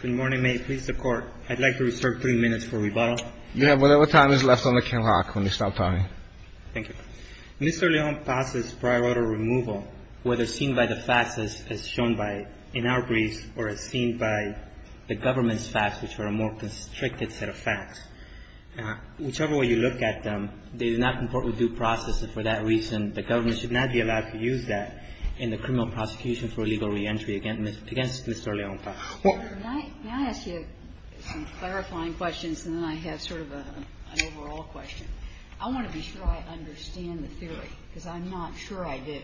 Good morning, may it please the court. I'd like to reserve three minutes for rebuttal. You have whatever time is left on the camera when you stop talking. Thank you. Mr. Leon-Paz's prior order removal, whether seen by the facts as shown in our briefs or as seen by the government's facts, which are a more constricted set of facts, whichever way you look at them, they do not comport with due process, and for that reason, the government should not be allowed to use that in the criminal prosecution for illegal reentry against Mr. Leon-Paz. May I ask you some clarifying questions, and then I have sort of an overall question. I want to be sure I understand the theory, because I'm not sure I do.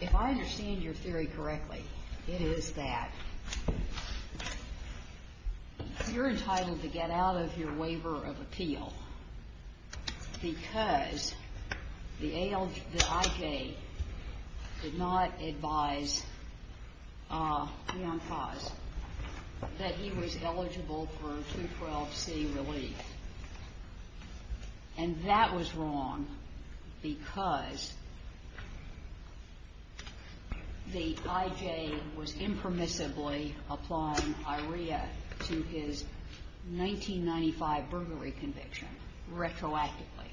If I understand your theory correctly, it is that you're entitled to get out of your waiver of appeal because the I.J. did not advise Leon-Paz that he was eligible for 212C relief. And that was wrong because the I.J. was impermissibly applying I.R.E.A. to his 1995 burglary conviction, retroactively.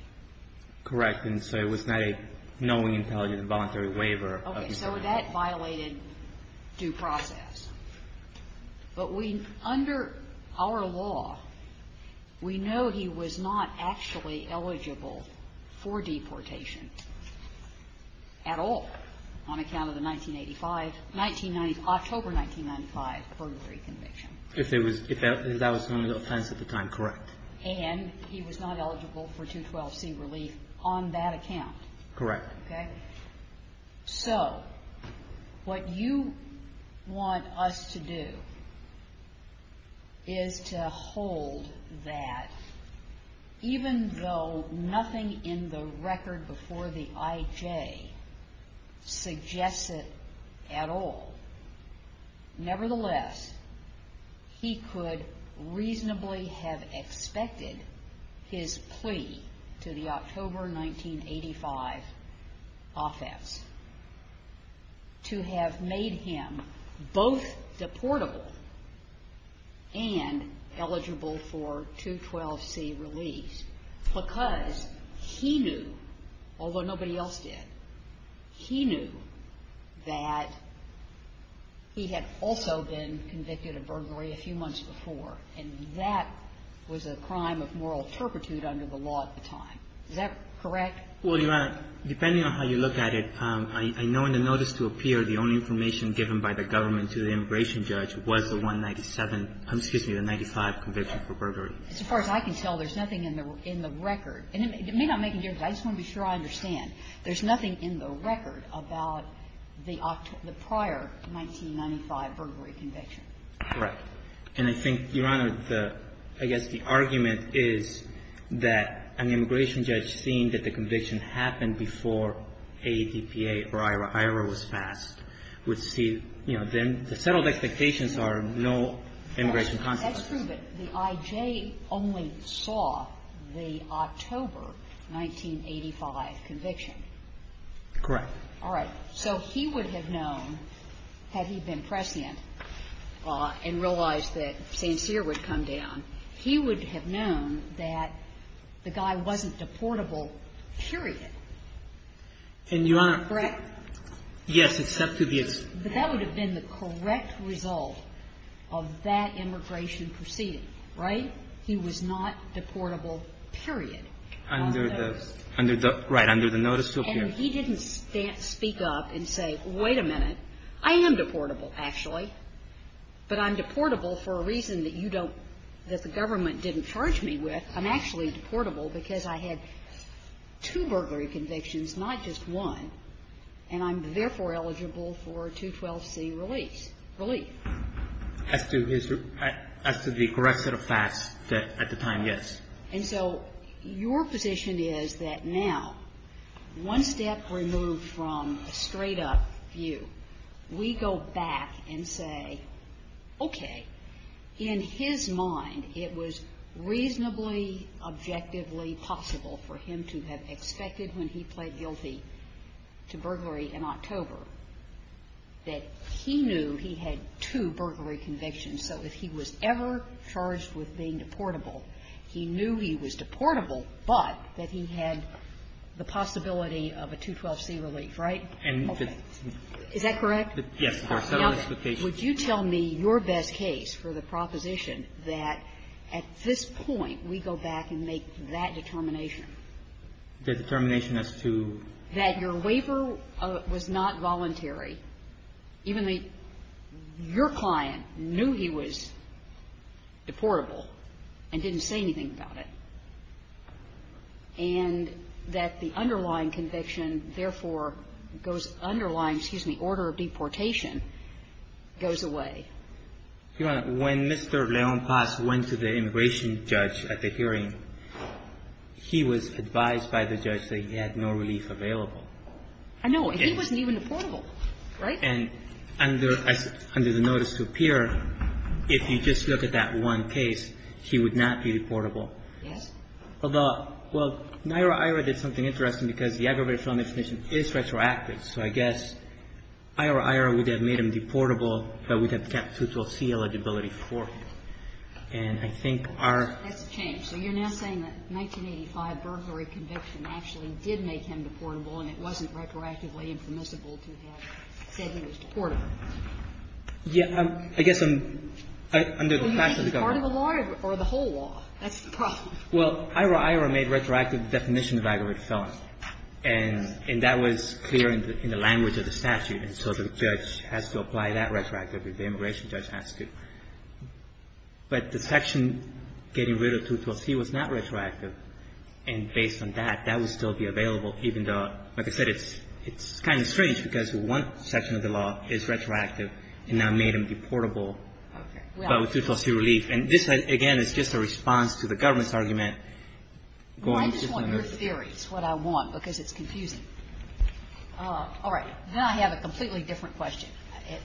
Correct. And so it was not a knowing, intelligent, voluntary waiver. Okay. So that violated due process. But we, under our law, we know he was not actually eligible for deportation at all on account of the 1985, 1990, October 1995, burglary conviction. If it was, if that was his only offense at the time, correct. And he was not eligible for 212C relief on that account. Correct. Okay. So what you want us to do is to hold that even though nothing in the record before the I.J. suggests it at all, nevertheless, he could reasonably have expected his plea to the October 1985 offense to have made him both deportable and eligible for 212C relief Because he knew, although nobody else did, he knew that he had also been convicted of burglary a few months before. And that was a crime of moral turpitude under the law at the time. Is that correct? Well, Your Honor, depending on how you look at it, I know in the notice to appear, the only information given by the government to the immigration judge was the 197 Excuse me, the 95 conviction for burglary. As far as I can tell, there's nothing in the record. And it may not make any difference. I just want to be sure I understand. There's nothing in the record about the prior 1995 burglary conviction. Correct. And I think, Your Honor, I guess the argument is that an immigration judge seeing that the conviction happened before ADPA or IHRA, IHRA was passed, would see, you know, the settled expectations are no immigration consequences. That's true, but the IJ only saw the October 1985 conviction. Correct. All right. So he would have known, had he been prescient and realized that St. Cyr would come down, he would have known that the guy wasn't deportable, period. And, Your Honor – Correct? Yes, except to be – But that would have been the correct result of that immigration proceeding. Right? He was not deportable, period. Under the – right. Under the notice to appear. And he didn't speak up and say, wait a minute, I am deportable, actually, but I'm deportable for a reason that you don't – that the government didn't charge me with. I'm actually deportable because I had two burglary convictions, not just one, and I'm therefore eligible for 212C release – relief. As to his – as to the correct set of facts at the time, yes. And so your position is that now, one step removed from a straight-up view, we go back and say, okay, in his mind it was reasonably, objectively possible for him to have suspected when he pled guilty to burglary in October that he knew he had two burglary convictions, so if he was ever charged with being deportable, he knew he was deportable, but that he had the possibility of a 212C relief, right? And the – Okay. Is that correct? Yes, Your Honor. Would you tell me your best case for the proposition that at this point we go back and make that determination? The determination as to – That your waiver was not voluntary, even though your client knew he was deportable and didn't say anything about it, and that the underlying conviction, therefore, goes – underlying, excuse me, order of deportation goes away. Your Honor, when Mr. Leon Paz went to the immigration judge at the hearing, he was advised by the judge that he had no relief available. I know. He wasn't even deportable, right? And under the notice to appear, if you just look at that one case, he would not be deportable. Yes. Although, well, Naira Aira did something interesting because the aggravated felony definition is retroactive, so I guess Aira Aira would have made him deportable but would have kept 212C eligibility for him. And I think our – That's a change. So you're now saying that 1985 burglary conviction actually did make him deportable and it wasn't retroactively impermissible to have said he was deportable. Yeah. I guess under the statute of the government – Well, you should be part of the law or the whole law. That's the problem. Well, Aira Aira made retroactive definition of aggravated felony, and that was clear in the language of the statute. And so the judge has to apply that retroactively. The immigration judge has to. But the section getting rid of 212C was not retroactive. And based on that, that would still be available even though, like I said, it's kind of strange because one section of the law is retroactive and that made him deportable but with 212C relief. And this, again, is just a response to the government's argument. Well, I just want your theories, what I want, because it's confusing. All right. Now I have a completely different question,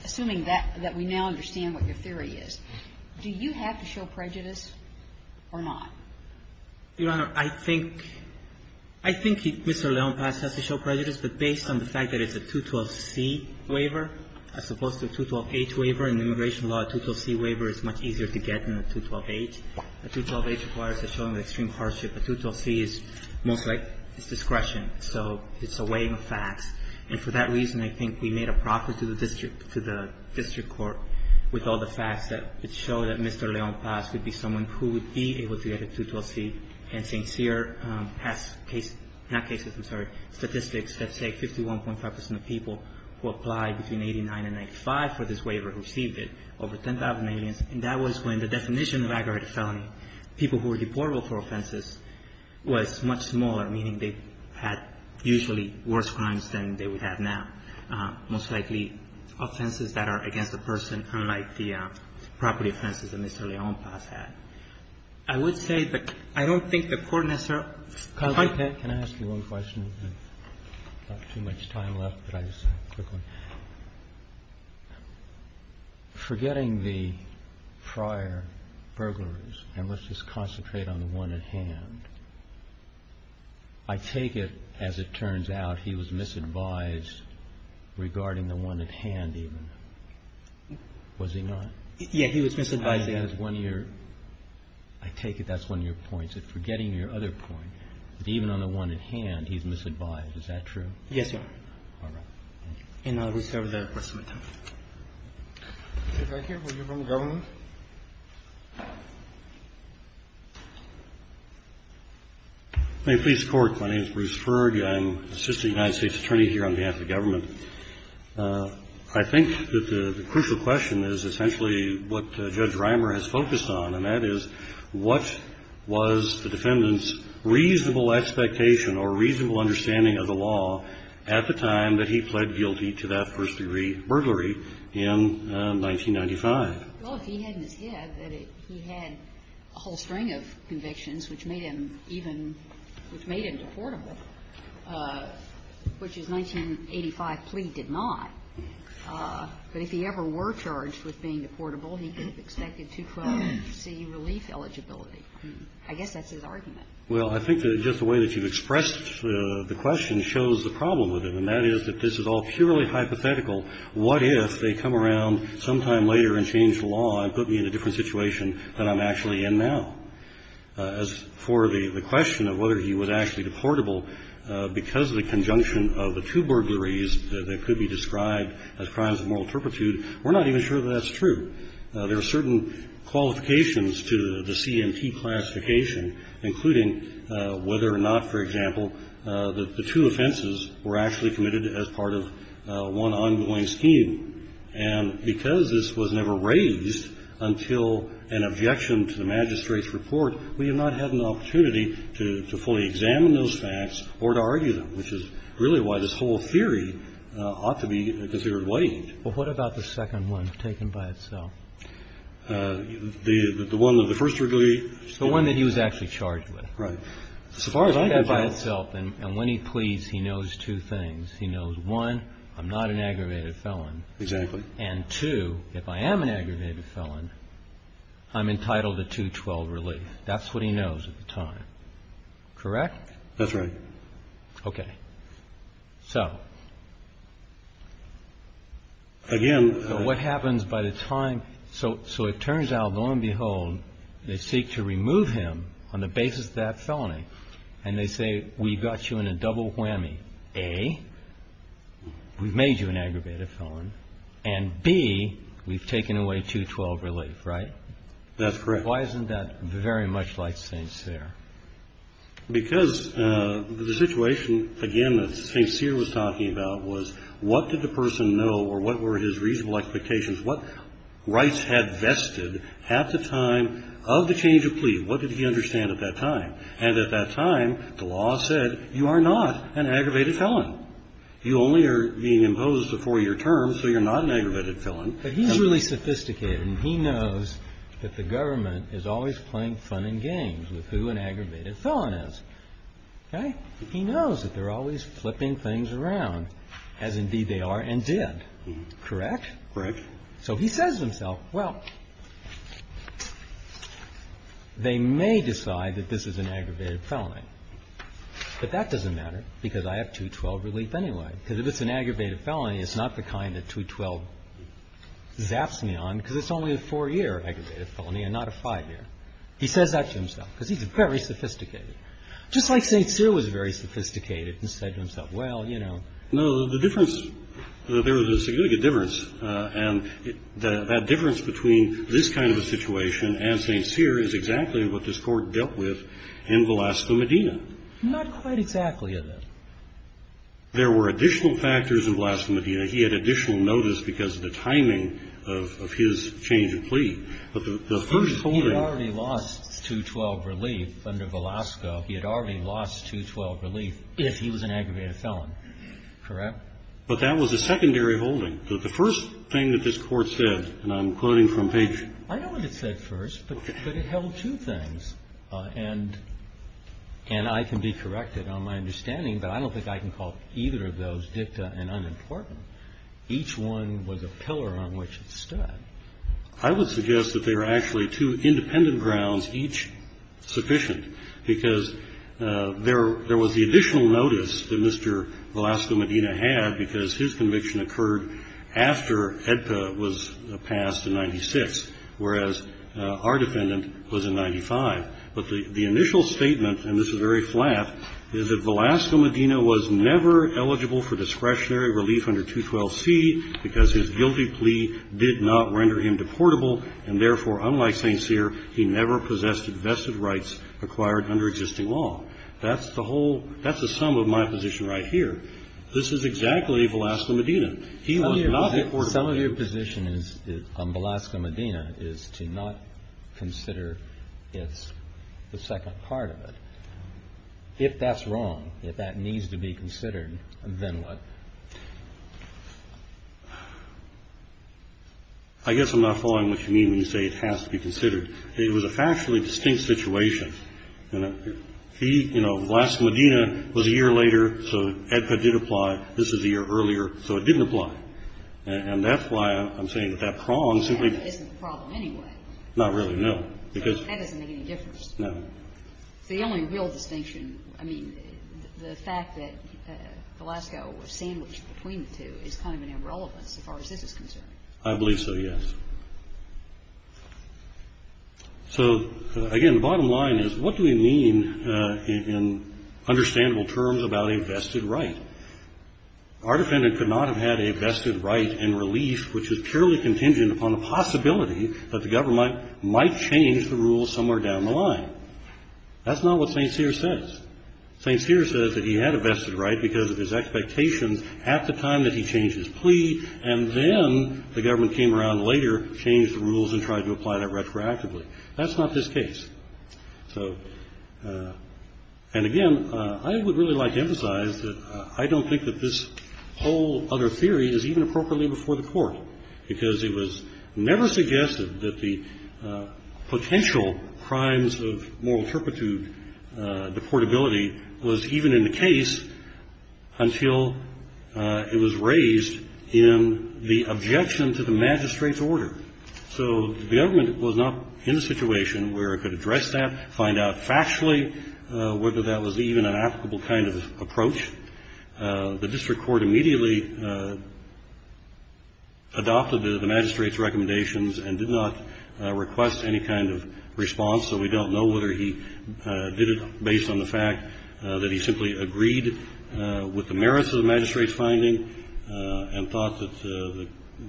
assuming that we now understand what your theory is. Do you have to show prejudice or not? Your Honor, I think Mr. Leonpass has to show prejudice, but based on the fact that it's a 212C waiver as opposed to a 212H waiver. In immigration law, a 212C waiver is much easier to get than a 212H. A 212H requires a showing of extreme hardship. A 212C is most like it's discretion. So it's a weighing of facts. And for that reason, I think we made a profit to the district court with all the facts that show that Mr. Leonpass would be someone who would be able to get a 212C. And St. Cyr has statistics that say 51.5 percent of people who applied between 89 and 95 for this waiver received it, over 10,000 aliens. And that was when the definition of aggravated felony, people who were deportable for offenses, was much smaller, meaning they had usually worse crimes than they would have now, most likely offenses that are against a person, unlike the property offenses that Mr. Leonpass had. I would say that I don't think the Court necessarily ---- Roberts. Can I ask you one question? We have not too much time left, but I just have a quick one. Forgetting the prior burglaries, and let's just concentrate on the one at hand, I take it, as it turns out, he was misadvised regarding the one at hand even. Was he not? Yes, he was misadvised. That's one of your ---- I take it that's one of your points, that forgetting your other point, that even on the one at hand, he's misadvised. Is that true? Yes, Your Honor. All right. And we've covered that question. Thank you. Will you run the government? May it please the Court. My name is Bruce Ferg. I'm Assistant United States Attorney here on behalf of the government. I think that the crucial question is essentially what Judge Reimer has focused on, and that is, what was the defendant's reasonable expectation or reasonable understanding of the law at the time that he pled guilty to that first-degree burglary in 1995? Well, if he hadn't said that he had a whole string of convictions which made him even ---- which made him deportable, which his 1985 plea did not, but if he ever were charged with being deportable, he could have expected 212C relief eligibility. I guess that's his argument. Well, I think that just the way that you've expressed the question shows the problem with him, and that is that this is all purely hypothetical. What if they come around sometime later and change the law and put me in a different situation than I'm actually in now? As for the question of whether he was actually deportable, because of the conjunction of the two burglaries that could be described as crimes of moral turpitude, we're not even sure that that's true. There are certain qualifications to the C&T classification, including whether or not, for example, that the two offenses were actually committed as part of one ongoing scheme. And because this was never raised until an objection to the magistrate's report, we have not had an opportunity to fully examine those facts or to argue them, which is really why this whole theory ought to be considered weighed. Well, what about the second one taken by itself? The one of the first three? The one that he was actually charged with. Right. As far as I can tell. And when he pleads, he knows two things. He knows, one, I'm not an aggravated felon. Exactly. And, two, if I am an aggravated felon, I'm entitled to 212 relief. That's what he knows at the time. Correct? That's right. Okay. So. Again. What happens by the time. So it turns out, lo and behold, they seek to remove him on the basis of that felony. And they say, we've got you in a double whammy. A, we've made you an aggravated felon. And B, we've taken away 212 relief. Right? That's correct. Why isn't that very much like St. Cyr? Because the situation, again, that St. Cyr was talking about was, what did the person know or what were his reasonable expectations? What rights had vested at the time of the change of plea? What did he understand at that time? And at that time, the law said, you are not an aggravated felon. You only are being imposed a four-year term, so you're not an aggravated felon. But he's really sophisticated. And he knows that the government is always playing fun and games with who an aggravated felon is. Okay? He knows that they're always flipping things around, as indeed they are and did. Correct? Correct. So he says to himself, well, they may decide that this is an aggravated felony. But that doesn't matter, because I have 212 relief anyway. Because if it's an aggravated felony, it's not the kind that 212 zaps me on, because it's only a four-year aggravated felony and not a five-year. He says that to himself, because he's very sophisticated. Just like St. Cyr was very sophisticated and said to himself, well, you know. No, the difference, there was a significant difference, and that difference between this kind of a situation and St. Cyr is exactly what this Court dealt with in Velasco, Medina. Not quite exactly, though. There were additional factors in Velasco, Medina. He had additional notice because of the timing of his change of plea. But the first holding. He had already lost 212 relief under Velasco. He had already lost 212 relief if he was an aggravated felon. Correct? But that was a secondary holding. The first thing that this Court said, and I'm quoting from Page. I know what it said first, but it held two things. And I can be corrected on my understanding, but I don't think I can call either of those dicta and unimportant. Each one was a pillar on which it stood. I would suggest that there are actually two independent grounds, each sufficient. Because there was the additional notice that Mr. Velasco, Medina had, because his conviction occurred after EDPA was passed in 96, whereas our defendant was in 95. But the initial statement, and this is very flat, is that Velasco, Medina was never eligible for discretionary relief under 212C because his guilty plea did not render him deportable, and therefore, unlike St. Cyr, he never possessed vested rights acquired under existing law. That's the whole – that's the sum of my position right here. This is exactly Velasco, Medina. He was not deportable. Some of your position on Velasco, Medina is to not consider the second part of it. If that's wrong, if that needs to be considered, then what? I guess I'm not following what you mean when you say it has to be considered. It was a factually distinct situation. Velasco, Medina was a year later, so EDPA did apply. This was a year earlier, so it didn't apply. And that's why I'm saying that that prong simply – But that isn't the problem anyway. Not really, no. Because – That doesn't make any difference. No. The only real distinction – I mean, the fact that Velasco was sandwiched between the two is kind of an irrelevance as far as this is concerned. I believe so, yes. So, again, the bottom line is what do we mean in understandable terms about a vested right? Our defendant could not have had a vested right in relief which is purely contingent upon a possibility that the government might change the rules somewhere down the line. That's not what St. Cyr says. St. Cyr says that he had a vested right because of his expectations at the time that he changed his plea, and then the government came around later, changed the rules, and tried to apply that retroactively. That's not this case. So – and, again, I would really like to emphasize that I don't think that this whole other theory is even appropriately before the court, because it was never suggested that the potential crimes of moral turpitude, deportability, was even in the case until it was raised in the objection to the magistrate's order. So the government was not in a situation where it could address that, find out factually whether that was even an applicable kind of approach. The district court immediately adopted the magistrate's recommendations and did not request any kind of response, so we don't know whether he did it based on the fact that he simply agreed with the merits of the magistrate's finding and thought that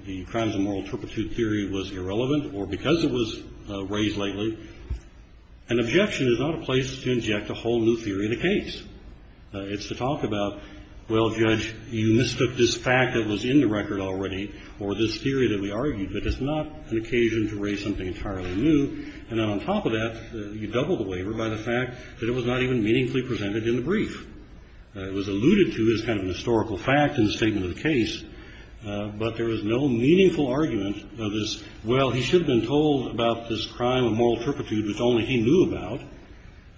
the crimes of moral turpitude theory was irrelevant or because it was raised lately. An objection is not a place to inject a whole new theory in a case. It's to talk about, well, Judge, you mistook this fact that was in the record already or this theory that we argued, but it's not an occasion to raise something entirely new, and then on top of that, you double the waiver by the fact that it was not even meaningfully presented in the brief. It was alluded to as kind of a historical fact in the statement of the case, but there was no meaningful argument of this, well, he should have been told about this crime of moral turpitude which only he knew about.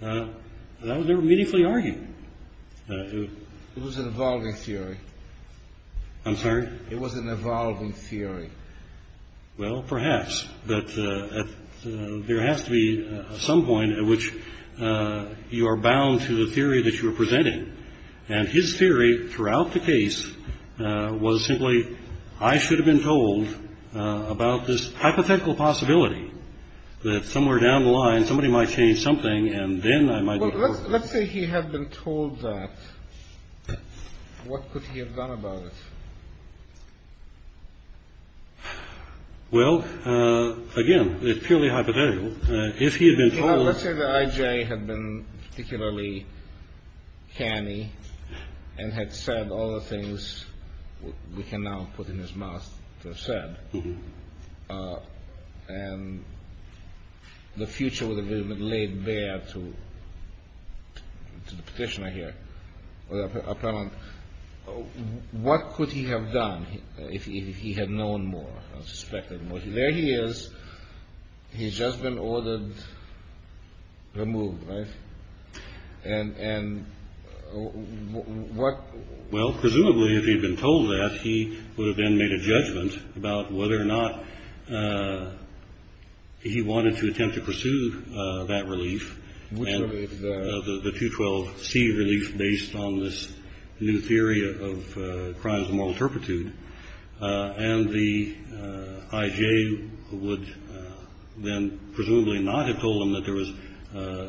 That was never meaningfully argued. It was an evolving theory. I'm sorry? It was an evolving theory. Well, perhaps, but there has to be some point at which you are bound to the theory that you are presenting, and his theory throughout the case was simply, I should have been told about this hypothetical possibility that somewhere down the line, somebody might change something, and then I might be told. Well, let's say he had been told that. What could he have done about it? Well, again, it's purely hypothetical. If he had been told. Well, let's say that I.J. had been particularly canny and had said all the things we can now put in his mouth to have said, and the future would have been laid bare to the petitioner here, or the appellant. What could he have done if he had known more, suspected more? There he is. He's just been ordered removed, right? And what? Well, presumably, if he'd been told that, he would have then made a judgment about whether or not he wanted to attempt to pursue that relief, the 212C relief based on this new theory of crimes of moral turpitude. And the I.J. would then presumably not have told him that there was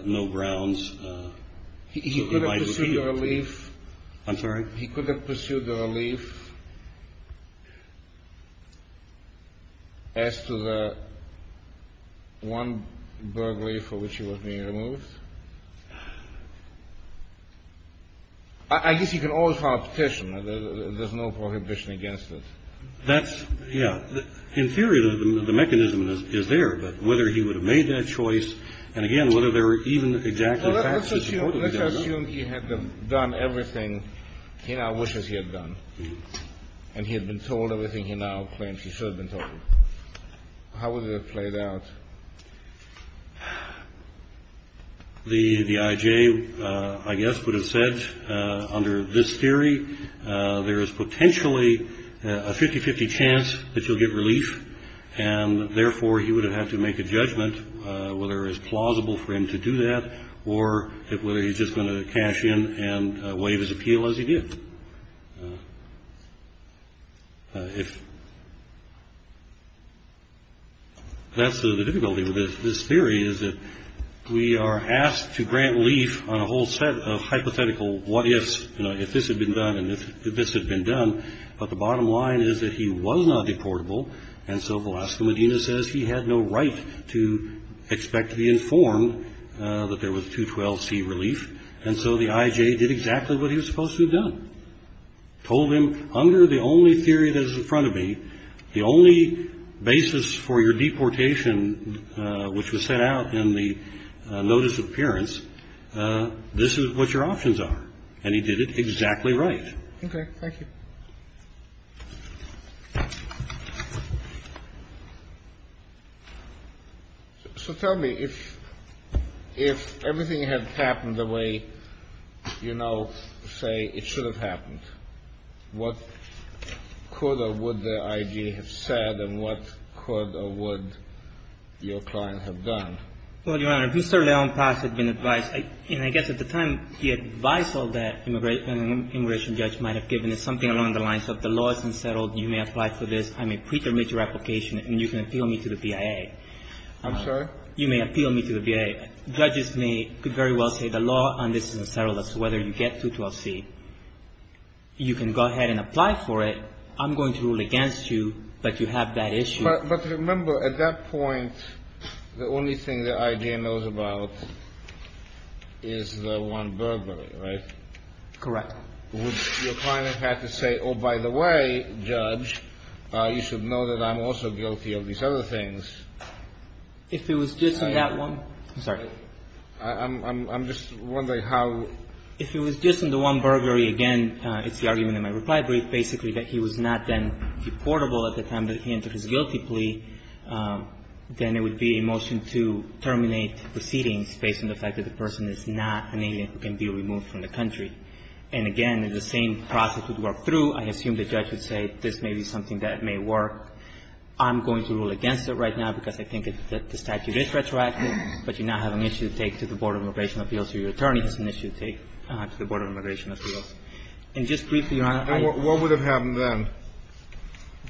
no grounds. He could have pursued the relief. I'm sorry? He could have pursued the relief as to the one burglary for which he was being removed. I guess you can always file a petition. There's no prohibition against it. That's, yeah. In theory, the mechanism is there. But whether he would have made that choice and, again, whether there were even exactly facts to support it. Let's assume he had done everything he now wishes he had done, and he had been told everything he now claims he should have been told. How would that have played out? The I.J., I guess, would have said, under this theory, there is potentially a 50-50 chance that you'll get relief. And, therefore, he would have had to make a judgment whether it was plausible for him to do that or whether he was just going to cash in and waive his appeal as he did. That's the difficulty with this theory, is that we are asked to grant relief on a whole set of hypothetical what-ifs, you know, if this had been done and if this had been done. But the bottom line is that he was not deportable, and so Velasco Medina says he had no right to expect to be informed that there was 212C relief. And so the I.J. did exactly what he was supposed to have done, told him, under the only theory that is in front of me, the only basis for your deportation which was set out in the notice of appearance, this is what your options are. And he did it exactly right. Okay. So tell me, if everything had happened the way you now say it should have happened, what could or would the I.J. have said and what could or would your client have done? Well, Your Honor, if Mr. Leon Pass had been advised, and I guess at the time he advised all that an immigration judge might have given, it's something along the lines of the law is unsettled, you may apply for this, I may preterminate your application, and you can appeal me to the BIA. I'm sorry? You may appeal me to the BIA. Judges may very well say the law on this is unsettled as to whether you get 212C. You can go ahead and apply for it. I'm going to rule against you, but you have that issue. But remember, at that point, the only thing the I.J. knows about is the one verbally, right? Correct. Would your client have to say, oh, by the way, Judge, you should know that I'm also guilty of these other things? If it was just in that one ---- I'm sorry. I'm just wondering how ---- If it was just in the one verbally, again, it's the argument in my reply brief, basically, that he was not then reportable at the time that he entered his guilty plea, then it would be a motion to terminate proceedings based on the fact that the person is not an alien who can be removed from the country. And again, the same process would work through. I assume the judge would say this may be something that may work. I'm going to rule against it right now because I think that the statute is retroactive, but you now have an issue to take to the Board of Immigration Appeals. Your attorney has an issue to take to the Board of Immigration Appeals. And just briefly, Your Honor, I ---- And what would have happened then?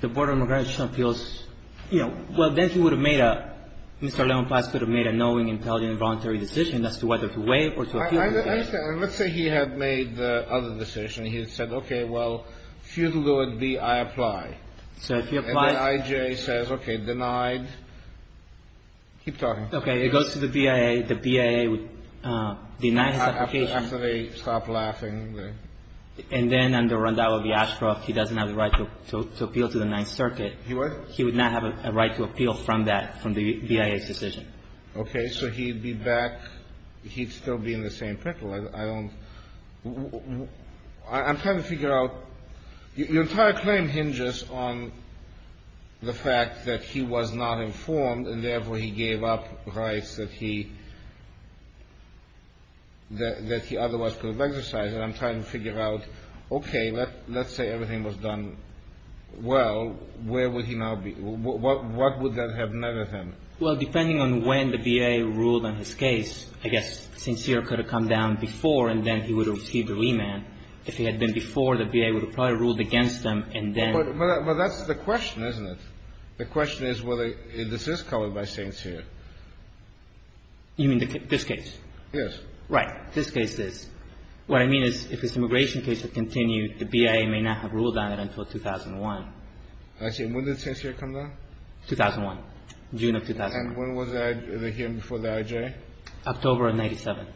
The Board of Immigration Appeals, you know, well, then he would have made a ---- Mr. Levenplatz could have made a knowing, intelligent, voluntary decision as to whether to waive or to appeal. I understand. Let's say he had made the other decision. He had said, okay, well, futile though it be, I apply. So if you apply ---- And then I.J. says, okay, denied. Keep talking. Okay. It goes to the BIA. The BIA would deny his application. After they stop laughing, then. And then under Rondau v. Ashcroft, he doesn't have the right to appeal to the Ninth Circuit. He would not have a right to appeal from that, from the BIA's decision. Okay. So he'd be back. He'd still be in the same pickle. I don't ---- I'm trying to figure out. Your entire claim hinges on the fact that he was not informed and, therefore, he gave up rights that he ---- that he otherwise could have exercised. And I'm trying to figure out, okay, let's say everything was done well. Where would he now be? What would that have meant to him? Well, depending on when the BIA ruled on his case, I guess St. Cyr could have come down before and then he would have received a remand. If he had been before, the BIA would have probably ruled against him and then ---- But that's the question, isn't it? The question is whether this is covered by St. Cyr. You mean this case? Yes. Right. This case is. What I mean is if his immigration case had continued, the BIA may not have ruled on it until 2001. I see. And when did St. Cyr come down? 2001. June of 2001. And when was the hearing before the IJ? October of 97.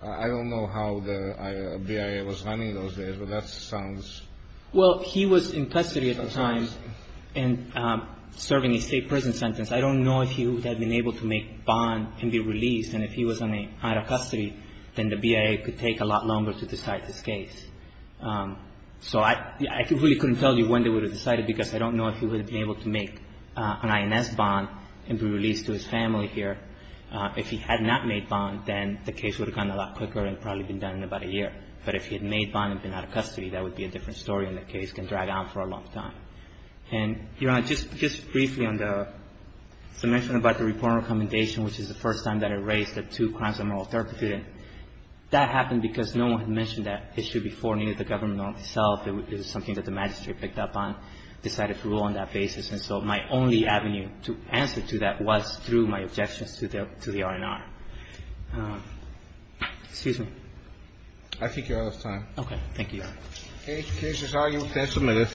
I don't know how the BIA was running those days, but that sounds ---- Well, he was in custody at the time and serving a state prison sentence. I don't know if he would have been able to make bond and be released. And if he was out of custody, then the BIA could take a lot longer to decide his case. So I really couldn't tell you when they would have decided, because I don't know if he would have been able to make an INS bond and be released to his family here. If he had not made bond, then the case would have gone a lot quicker and probably been done in about a year. But if he had made bond and been out of custody, that would be a different story, and the case can drag on for a long time. And, Your Honor, just briefly on the ---- as I mentioned about the reporting recommendation, which is the first time that it raised the two crimes of moral That happened because no one had mentioned that issue before, neither the government nor itself. It was something that the magistrate picked up on, decided to rule on that basis. And so my only avenue to answer to that was through my objections to the R&R. Excuse me. I think you're out of time. Okay. Thank you, Your Honor. Any cases are you can submit it.